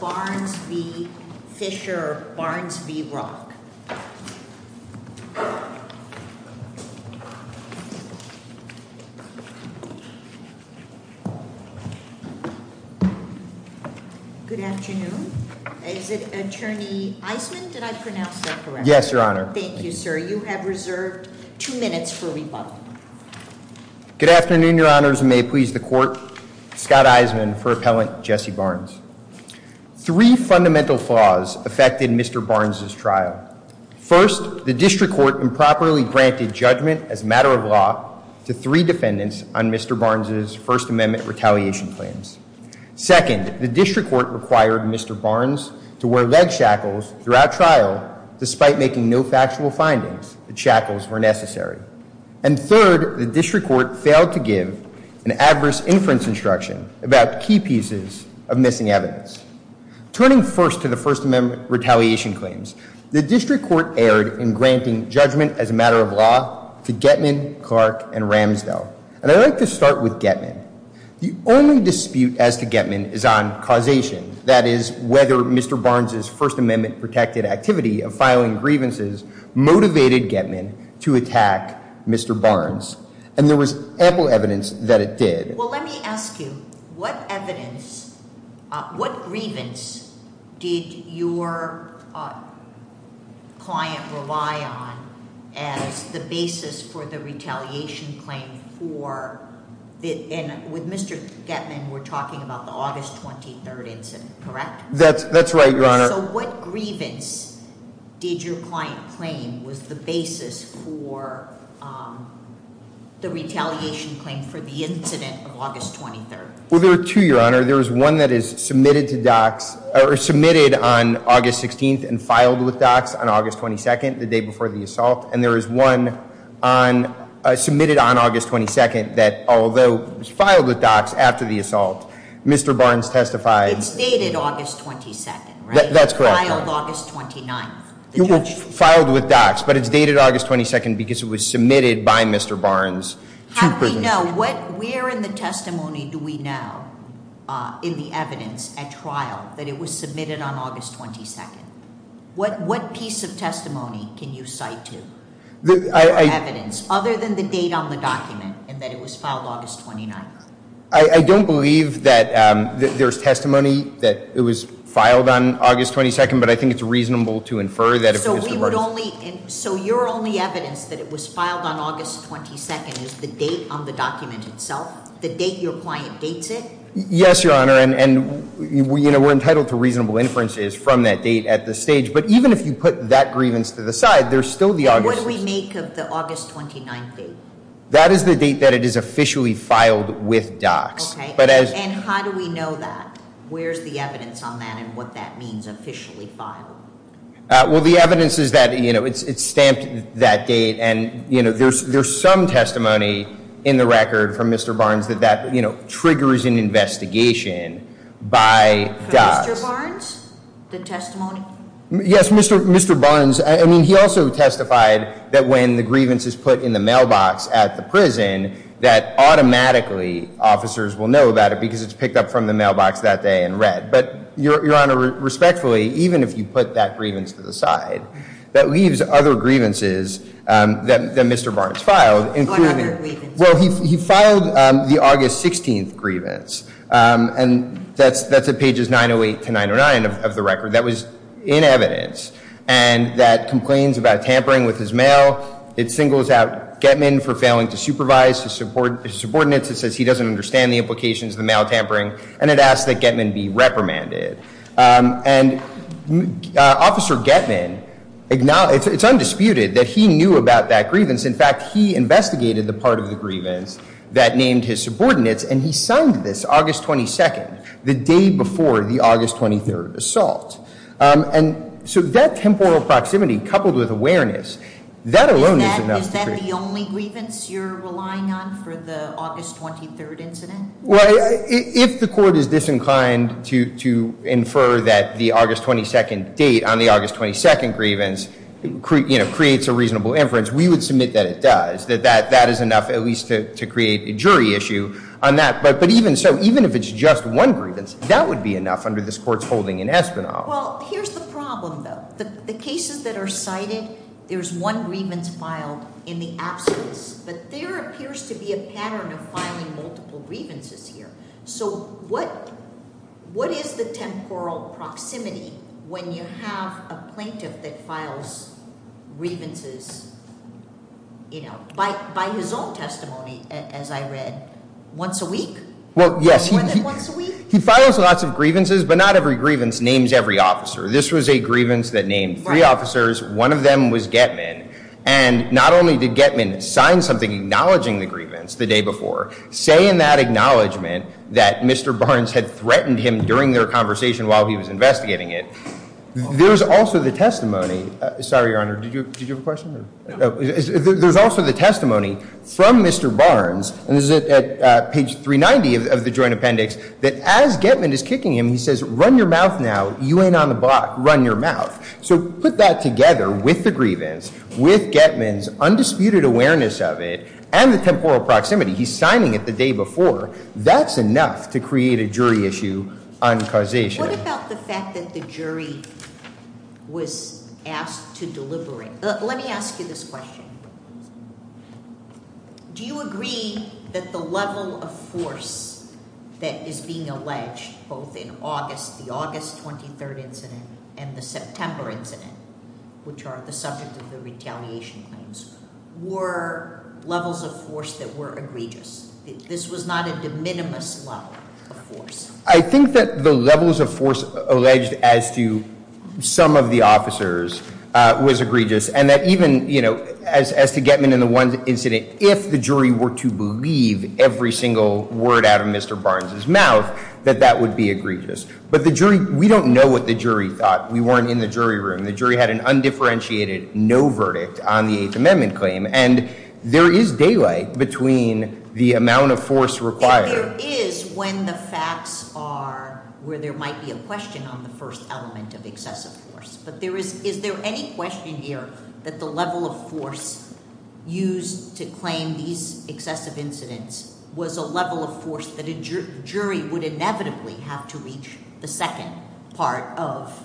Barnes v. Fischer, Barnes v. Rock. Good afternoon. Is it Attorney Isman? Did I pronounce that correctly? Yes, Your Honor. Thank you, sir. You have reserved two minutes for rebuttal. Good afternoon, Your Honors, and may it please the Court. Scott Isman for Appellant Jesse Barnes. Three fundamental flaws affected Mr. Barnes' trial. First, the District Court improperly granted judgment as a matter of law to three defendants on Mr. Barnes' First Amendment retaliation plans. Second, the District Court required Mr. Barnes to wear leg shackles throughout trial despite making no factual findings that shackles were necessary. And third, the District Court failed to give an adverse inference instruction about key pieces of missing evidence. Turning first to the First Amendment retaliation claims, the District Court erred in granting judgment as a matter of law to Getman, Clark, and Ramsdell. And I'd like to start with Getman. The only dispute as to Getman is on causation, that is, whether Mr. Barnes' First Amendment-protected activity of filing grievances motivated Getman to attack Mr. Barnes. And there was ample evidence that it did. Well, let me ask you, what evidence, what grievance did your client rely on as the basis for the retaliation claim for the, and with Mr. Getman, we're talking about the August 23rd incident, correct? That's, that's right, Your Honor. So what grievance did your client claim was the basis for the retaliation claim for the incident of August 23rd? Well, there are two, Your Honor. There is one that is submitted to docs, or submitted on August 16th and filed with docs on August 22nd, the day before the assault. And there is one submitted on August 22nd that, although filed with docs after the assault, Mr. Barnes testified- It's dated August 22nd, right? That's correct, Your Honor. Filed August 29th, the judge- How do we know? What, where in the testimony do we know in the evidence at trial that it was submitted on August 22nd? What piece of testimony can you cite to? The evidence, other than the date on the document, and that it was filed August 29th. I don't believe that there's testimony that it was filed on August 22nd, but I think it's reasonable to infer that if Mr. Barnes- So your only evidence that it was filed on August 22nd is the date on the document itself? The date your client dates it? Yes, Your Honor, and we're entitled to reasonable inferences from that date at this stage. But even if you put that grievance to the side, there's still the August- And what do we make of the August 29th date? That is the date that it is officially filed with docs. Okay, and how do we know that? Where's the evidence on that and what that means, officially filed? Well, the evidence is that it's stamped that date, and there's some testimony in the record from Mr. Barnes that that triggers an investigation by docs. From Mr. Barnes, the testimony? Yes, Mr. Barnes, I mean, he also testified that when the grievance is put in the mailbox at the prison, that automatically officers will know about it because it's picked up from the mailbox that day and read. But, Your Honor, respectfully, even if you put that grievance to the side, that leaves other grievances that Mr. Barnes filed, including- What other grievances? Well, he filed the August 16th grievance, and that's at pages 908 to 909 of the record. That was in evidence, and that complains about tampering with his mail. It singles out Getman for failing to supervise his subordinates. It says he doesn't understand the implications of the mail tampering. And it asks that Getman be reprimanded. And Officer Getman, it's undisputed that he knew about that grievance. In fact, he investigated the part of the grievance that named his subordinates, and he signed this August 22nd, the day before the August 23rd assault. And so that temporal proximity, coupled with awareness, that alone is enough to- Is that the only grievance you're relying on for the August 23rd incident? Well, if the court is disinclined to infer that the August 22nd date on the August 22nd grievance creates a reasonable inference, we would submit that it does. That that is enough, at least to create a jury issue on that. But even so, even if it's just one grievance, that would be enough under this court's holding in Espinoff. Well, here's the problem, though. The cases that are cited, there's one grievance filed in the absence. But there appears to be a pattern of filing multiple grievances here. So what is the temporal proximity when you have a plaintiff that files grievances by his own testimony, as I read, once a week? More than once a week? He files lots of grievances, but not every grievance names every officer. This was a grievance that named three officers. One of them was Getman. And not only did Getman sign something acknowledging the grievance the day before, say in that acknowledgement that Mr. Barnes had threatened him during their conversation while he was investigating it. There's also the testimony, sorry, Your Honor, did you have a question? There's also the testimony from Mr. Barnes, and this is at page 390 of the joint appendix, that as Getman is kicking him, he says, run your mouth now, you ain't on the block, run your mouth. So put that together with the grievance, with Getman's undisputed awareness of it, and the temporal proximity. He's signing it the day before. That's enough to create a jury issue on causation. What about the fact that the jury was asked to deliver it? Let me ask you this question. Do you agree that the level of force that is being alleged, both in the August 23rd incident and the September incident, which are the subject of the retaliation claims, were levels of force that were egregious? This was not a de minimis level of force. I think that the levels of force alleged as to some of the officers was egregious. And that even as to Getman in the one incident, if the jury were to believe every single word out of Mr. Barnes' mouth, that that would be egregious. But we don't know what the jury thought. We weren't in the jury room. The jury had an undifferentiated no verdict on the Eighth Amendment claim. And there is daylight between the amount of force required. There is when the facts are where there might be a question on the first element of excessive force. But is there any question here that the level of force used to claim these excessive incidents was a level of force that a jury would inevitably have to reach the second part of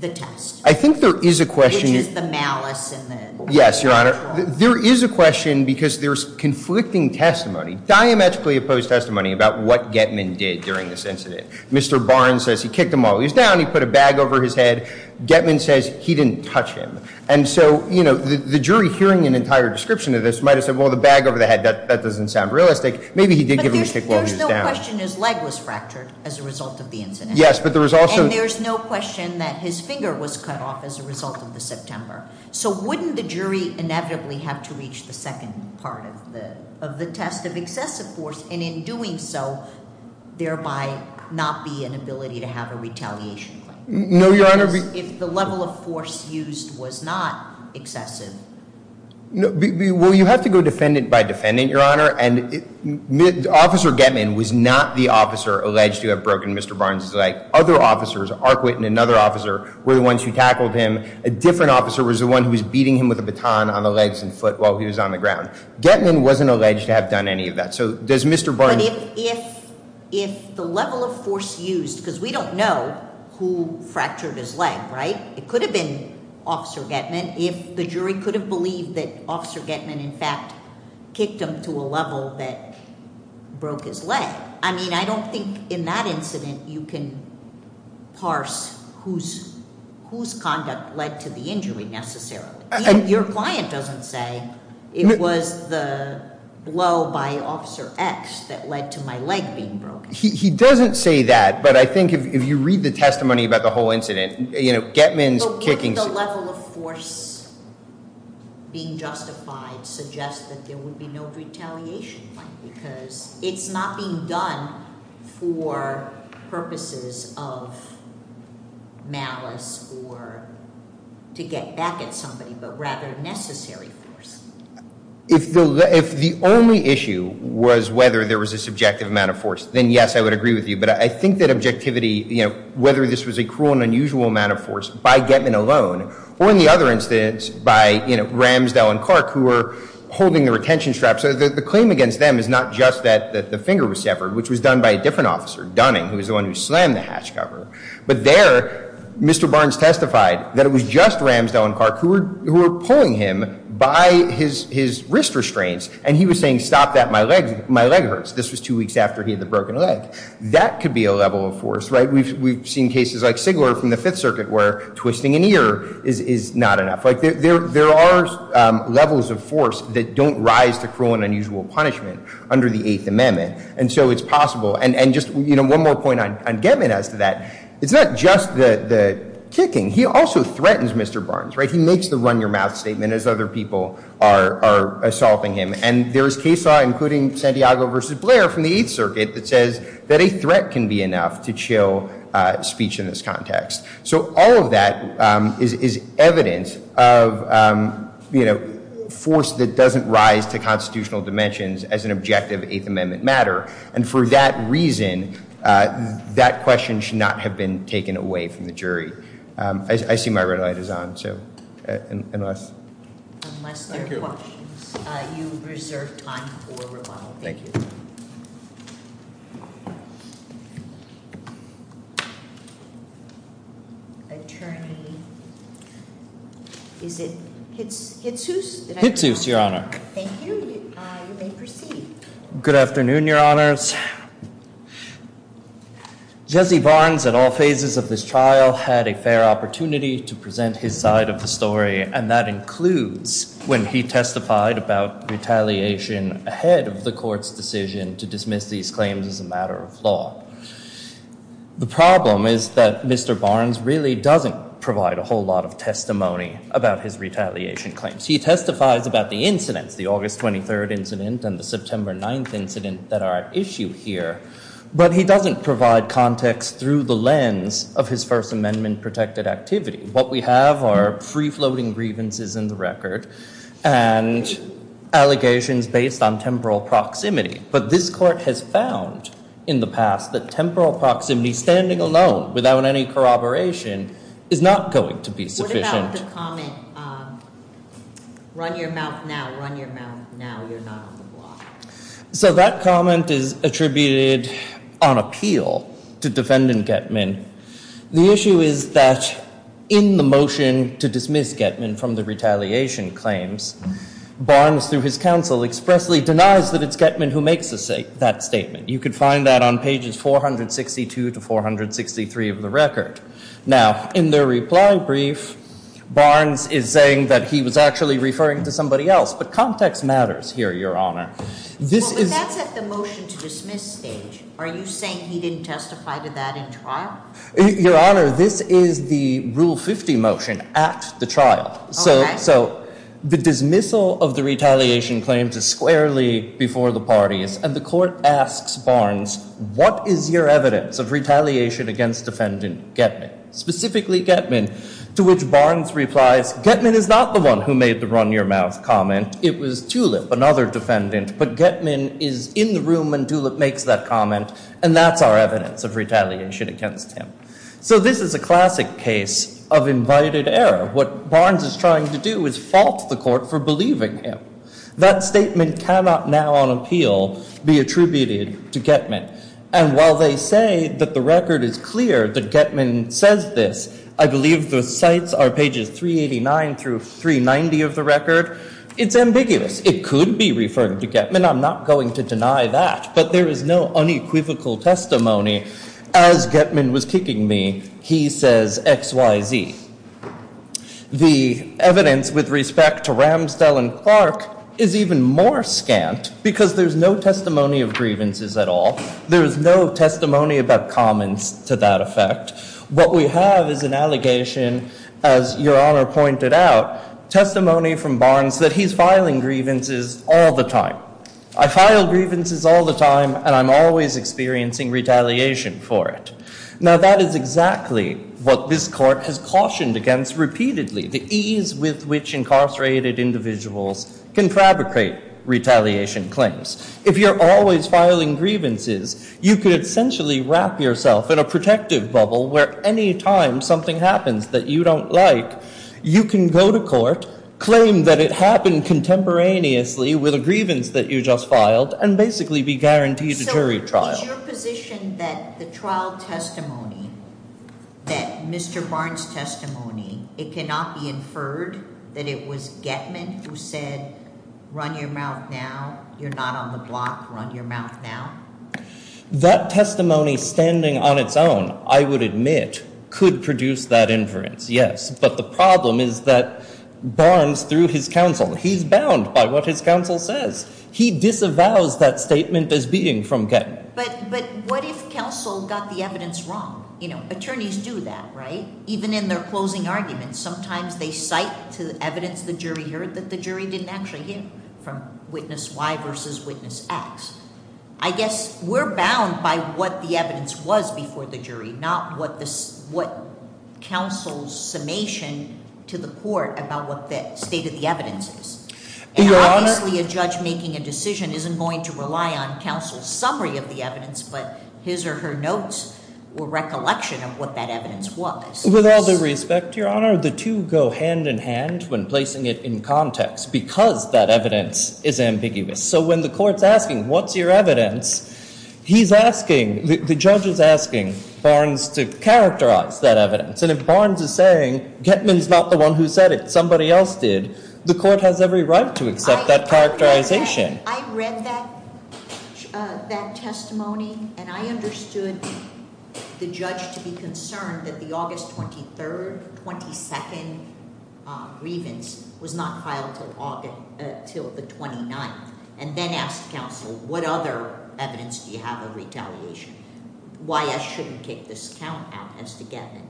the test? I think there is a question- Which is the malice and the- Yes, Your Honor. There is a question because there's conflicting testimony, diametrically opposed testimony about what Getman did during this incident. Mr. Barnes says he kicked him while he was down, he put a bag over his head. Getman says he didn't touch him. And so, the jury hearing an entire description of this might have said, well, the bag over the head, that doesn't sound realistic. Maybe he did give him a stick while he was down. But there's no question his leg was fractured as a result of the incident. Yes, but there was also- And there's no question that his finger was cut off as a result of the September. So wouldn't the jury inevitably have to reach the second part of the test of excessive force? And in doing so, thereby not be inability to have a retaliation claim. No, Your Honor, we- If the level of force used was not excessive. No, well, you have to go defendant by defendant, Your Honor. And Officer Getman was not the officer alleged to have broken Mr. Barnes' leg. Other officers, Arquette and another officer, were the ones who tackled him. A different officer was the one who was beating him with a baton on the legs and foot while he was on the ground. Getman wasn't alleged to have done any of that. So does Mr. Barnes- But if the level of force used, because we don't know who fractured his leg, right? It could have been Officer Getman if the jury could have believed that Officer Getman, in fact, kicked him to a level that broke his leg. I mean, I don't think in that incident you can parse whose conduct led to the injury necessarily. Your client doesn't say it was the blow by Officer X that led to my leg being broken. He doesn't say that, but I think if you read the testimony about the whole incident, Getman's kicking- But wouldn't the level of force being justified suggest that there would be no retaliation claim? Because it's not being done for purposes of malice or to get back at somebody, but rather necessary force. If the only issue was whether there was a subjective amount of force, then yes, I would agree with you. But I think that objectivity, whether this was a cruel and unusual amount of force by Getman alone, or in the other instance by Ramsdell and Clark, who were holding the retention straps. The claim against them is not just that the finger was severed, which was done by a different officer, Dunning, who was the one who slammed the hatch cover. But there, Mr. Barnes testified that it was just Ramsdell and Clark who were pulling him by his wrist restraints. And he was saying, stop that, my leg hurts. This was two weeks after he had the broken leg. That could be a level of force, right? We've seen cases like Sigler from the Fifth Circuit where twisting an ear is not enough. There are levels of force that don't rise to cruel and unusual punishment under the Eighth Amendment. And so it's possible. And just one more point on Getman as to that. It's not just the kicking. He also threatens Mr. Barnes, right? He makes the run-your-mouth statement as other people are assaulting him. And there is case law, including Santiago versus Blair from the Eighth Circuit, that says that a threat can be enough to chill speech in this context. So all of that is evidence of force that doesn't rise to constitutional dimensions as an objective Eighth Amendment matter. And for that reason, that question should not have been taken away from the jury. I see my red light is on, so unless. Unless there are questions, you reserve time for rebuttal. Thank you. Attorney, is it Hitsuse? Hitsuse, Your Honor. Thank you. You may proceed. Good afternoon, Your Honors. Jesse Barnes, at all phases of this trial, had a fair opportunity to present his side of the story. And that includes when he testified about retaliation ahead of the court's decision to dismiss these claims as a matter of law. The problem is that Mr. Barnes really doesn't provide a whole lot of testimony about his retaliation claims. He testifies about the incidents, the August 23rd incident and the September 9th incident that are at issue here, but he doesn't provide context through the lens of his First Amendment protected activity. What we have are free-floating grievances in the record and allegations based on temporal proximity. But this court has found in the past that temporal proximity, standing alone without any corroboration, is not going to be sufficient. You have the comment, run your mouth now, run your mouth now, you're not on the block. So that comment is attributed on appeal to Defendant Getman. The issue is that in the motion to dismiss Getman from the retaliation claims, Barnes, through his counsel, expressly denies that it's Getman who makes that statement. You can find that on pages 462 to 463 of the record. Now, in the reply brief, Barnes is saying that he was actually referring to somebody else, but context matters here, Your Honor. This is- Well, but that's at the motion to dismiss stage. Are you saying he didn't testify to that in trial? Your Honor, this is the Rule 50 motion at the trial. So the dismissal of the retaliation claims is squarely before the parties, and the Court asks Barnes, what is your evidence of retaliation against Defendant Getman? Specifically Getman, to which Barnes replies, Getman is not the one who made the run your mouth comment. It was Tulip, another defendant, but Getman is in the room when Tulip makes that comment, and that's our evidence of retaliation against him. So this is a classic case of invited error. What Barnes is trying to do is fault the Court for believing him. That statement cannot now on appeal be attributed to Getman, and while they say that the record is clear that Getman says this, I believe the cites are pages 389 through 390 of the record. It's ambiguous. It could be referring to Getman. I'm not going to deny that, but there is no unequivocal testimony. As Getman was kicking me, he says X, Y, Z. The evidence with respect to Ramsdell and Clark is even more scant because there's no testimony of grievances at all. There is no testimony about comments to that effect. What we have is an allegation, as Your Honor pointed out, testimony from Barnes that he's filing grievances all the time. I file grievances all the time, and I'm always experiencing retaliation for it. Now, that is exactly what this Court has cautioned against repeatedly, the ease with which incarcerated individuals can fabricate retaliation claims. If you're always filing grievances, you could essentially wrap yourself in a protective bubble where any time something happens that you don't like, you can go to court, claim that it happened contemporaneously with a grievance that you just filed, and basically be guaranteed a jury trial. Is your position that the trial testimony, that Mr. Barnes' testimony, it cannot be inferred that it was Getman who said, run your mouth now, you're not on the block, run your mouth now? That testimony standing on its own, I would admit, could produce that inference, yes. But the problem is that Barnes, through his counsel, he's bound by what his counsel says. He disavows that statement as being from Getman. But what if counsel got the evidence wrong? Attorneys do that, right? Even in their closing arguments, sometimes they cite to the evidence the jury heard that the jury didn't actually hear from witness Y versus witness X. I guess we're bound by what the evidence was before the jury, not what counsel's summation to the court about what the state of the evidence is. And obviously, a judge making a decision isn't going to rely on counsel's summary of the evidence, but his or her notes or recollection of what that evidence was. With all due respect, Your Honor, the two go hand in hand when placing it in context, because that evidence is ambiguous. So when the court's asking, what's your evidence? He's asking, the judge is asking, Barnes to characterize that evidence. And if Barnes is saying, Getman's not the one who said it, somebody else did, the court has every right to accept that characterization. I read that testimony, and I understood the judge to be concerned that the August 23rd, 22nd grievance was not filed until the 29th. And then asked counsel, what other evidence do you have of retaliation? Why I shouldn't take this count out as to Getman,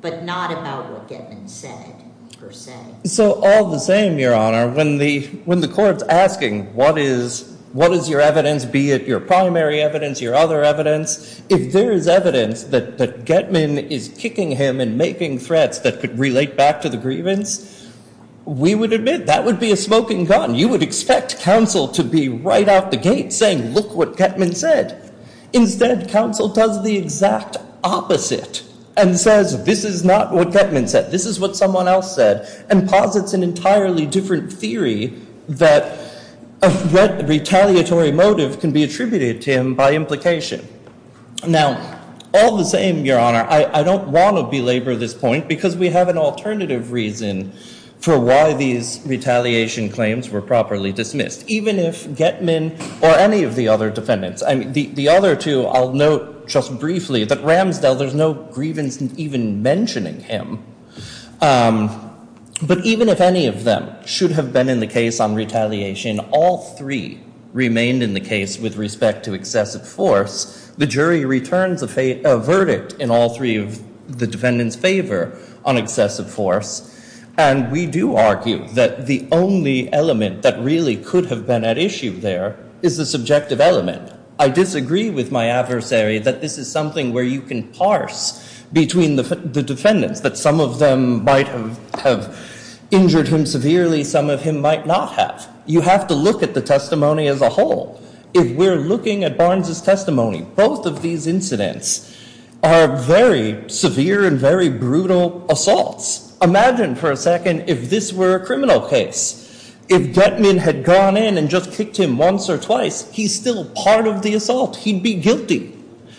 but not about what Getman said, per se. So all the same, Your Honor, when the court's asking, what is your evidence, be it your primary evidence, your other evidence, if there is evidence that Getman is kicking him and making threats that could relate back to the grievance, we would admit that would be a smoking gun. You would expect counsel to be right out the gate saying, look what Getman said. Instead, counsel does the exact opposite and says, this is not what Getman said. This is what someone else said. And posits an entirely different theory that a retaliatory motive can be attributed to him by implication. Now, all the same, Your Honor, I don't want to belabor this point because we have an alternative reason for why these retaliation claims were properly dismissed. Even if Getman or any of the other defendants, the other two, I'll note just briefly that Ramsdell, there's no grievance in even mentioning him. But even if any of them should have been in the case on retaliation, all three remained in the case with respect to excessive force. The jury returns a verdict in all three of the defendants' favor on excessive force. And we do argue that the only element that really could have been at issue there is the subjective element. I disagree with my adversary that this is something where you can parse between the defendants, that some of them might have injured him severely, some of him might not have. You have to look at the testimony as a whole. If we're looking at Barnes' testimony, both of these incidents are very severe and very brutal assaults. Imagine for a second if this were a criminal case. If Getman had gone in and just kicked him once or twice, he's still part of the assault. He'd be guilty.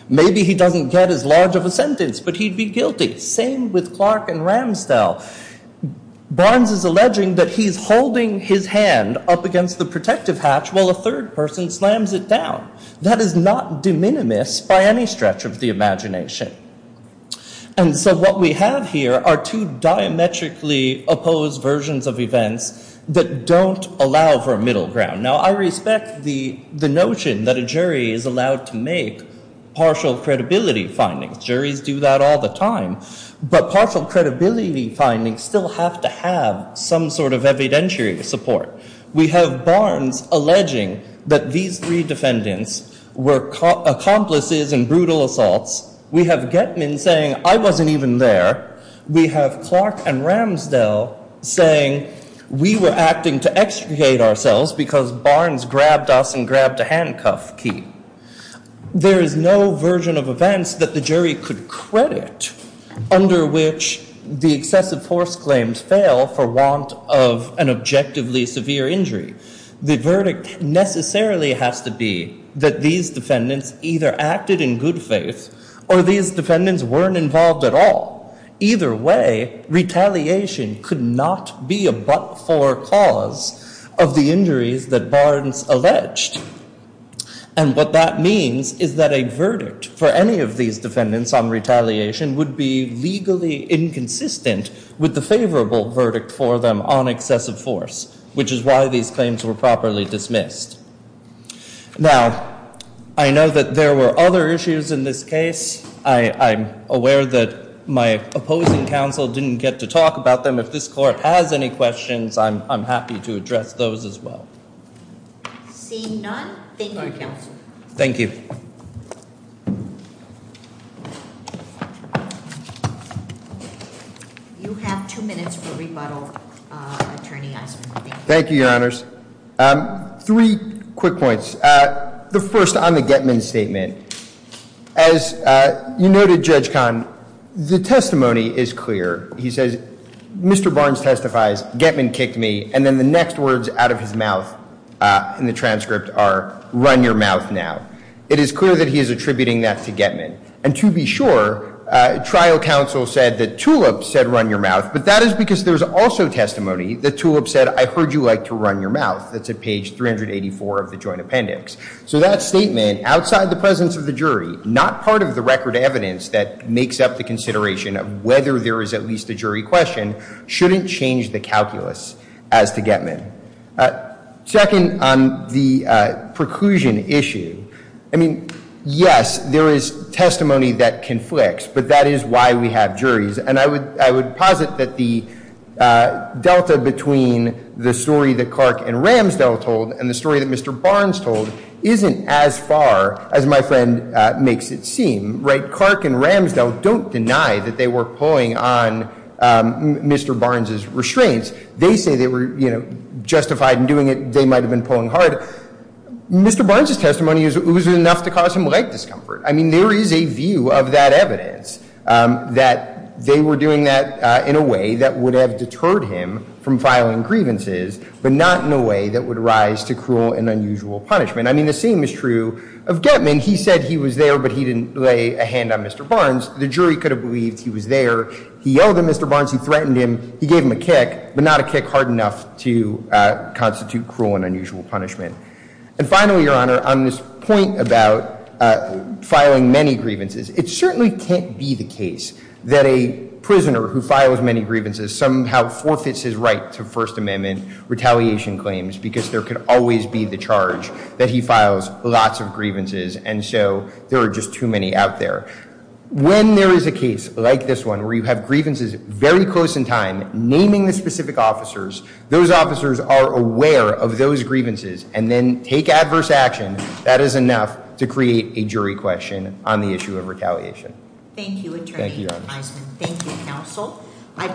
Maybe he doesn't get as large of a sentence, but he'd be guilty. Same with Clark and Ramsdell. Barnes is alleging that he's holding his hand up against the protective hatch while a third person slams it down. That is not de minimis by any stretch of the imagination. And so what we have here are two diametrically opposed versions of events that don't allow for a middle ground. Now, I respect the notion that a jury is allowed to make partial credibility findings. Juries do that all the time. But partial credibility findings still have to have some sort of evidentiary support. We have Barnes alleging that these three defendants were accomplices in brutal assaults. We have Getman saying, I wasn't even there. We have Clark and Ramsdell saying, we were acting to extricate ourselves because Barnes grabbed us and grabbed a handcuff key. There is no version of events that the jury could credit under which the excessive force claims fail for want of an objectively severe injury. The verdict necessarily has to be that these defendants either acted in good faith or these defendants weren't involved at all. Either way, retaliation could not be a but-for cause of the injuries that Barnes alleged. And what that means is that a verdict for any of these defendants on retaliation would be legally inconsistent with the favorable verdict for them on excessive force, which is why these claims were properly dismissed. Now, I know that there were other issues in this case. I'm aware that my opposing counsel didn't get to talk about them. If this court has any questions, I'm happy to address those as well. Seeing none, thank you counsel. Thank you. You have two minutes for rebuttal, Attorney Eisenberg. Thank you, your honors. Three quick points. The first on the Getman statement, as you noted, Judge Kahn, the testimony is clear. He says, Mr. Barnes testifies, Getman kicked me, and then the next words out of his mouth in the transcript are, run your mouth now. It is clear that he is attributing that to Getman. And to be sure, trial counsel said that Tulip said run your mouth, but that is because there's also testimony that Tulip said, I heard you like to run your mouth. That's at page 384 of the joint appendix. So that statement, outside the presence of the jury, not part of the record evidence that makes up the consideration of whether there is at least a jury question, shouldn't change the calculus as to Getman. Second, on the preclusion issue. I mean, yes, there is testimony that conflicts, but that is why we have juries. And I would posit that the delta between the story that Clark and Ramsdell told and the story that Mr. Barnes told isn't as far as my friend makes it seem, right? Clark and Ramsdell don't deny that they were pulling on Mr. Barnes's restraints. They say they were justified in doing it, they might have been pulling hard. Mr. Barnes's testimony was enough to cause him light discomfort. I mean, there is a view of that evidence that they were doing that in a way that would have deterred him from filing grievances, but not in a way that would rise to cruel and unusual punishment. I mean, the same is true of Getman. He said he was there, but he didn't lay a hand on Mr. Barnes. The jury could have believed he was there. He yelled at Mr. Barnes, he threatened him. He gave him a kick, but not a kick hard enough to constitute cruel and unusual punishment. And finally, Your Honor, on this point about filing many grievances, it certainly can't be the case that a prisoner who files many grievances somehow forfeits his right to First Amendment retaliation claims because there could always be the charge that he files lots of grievances and so there are just too many out there. When there is a case like this one where you have grievances very close in time, naming the specific officers, those officers are aware of those grievances and then take adverse action. That is enough to create a jury question on the issue of retaliation. Thank you, Attorney. Thank you, Your Honor. Thank you, counsel. I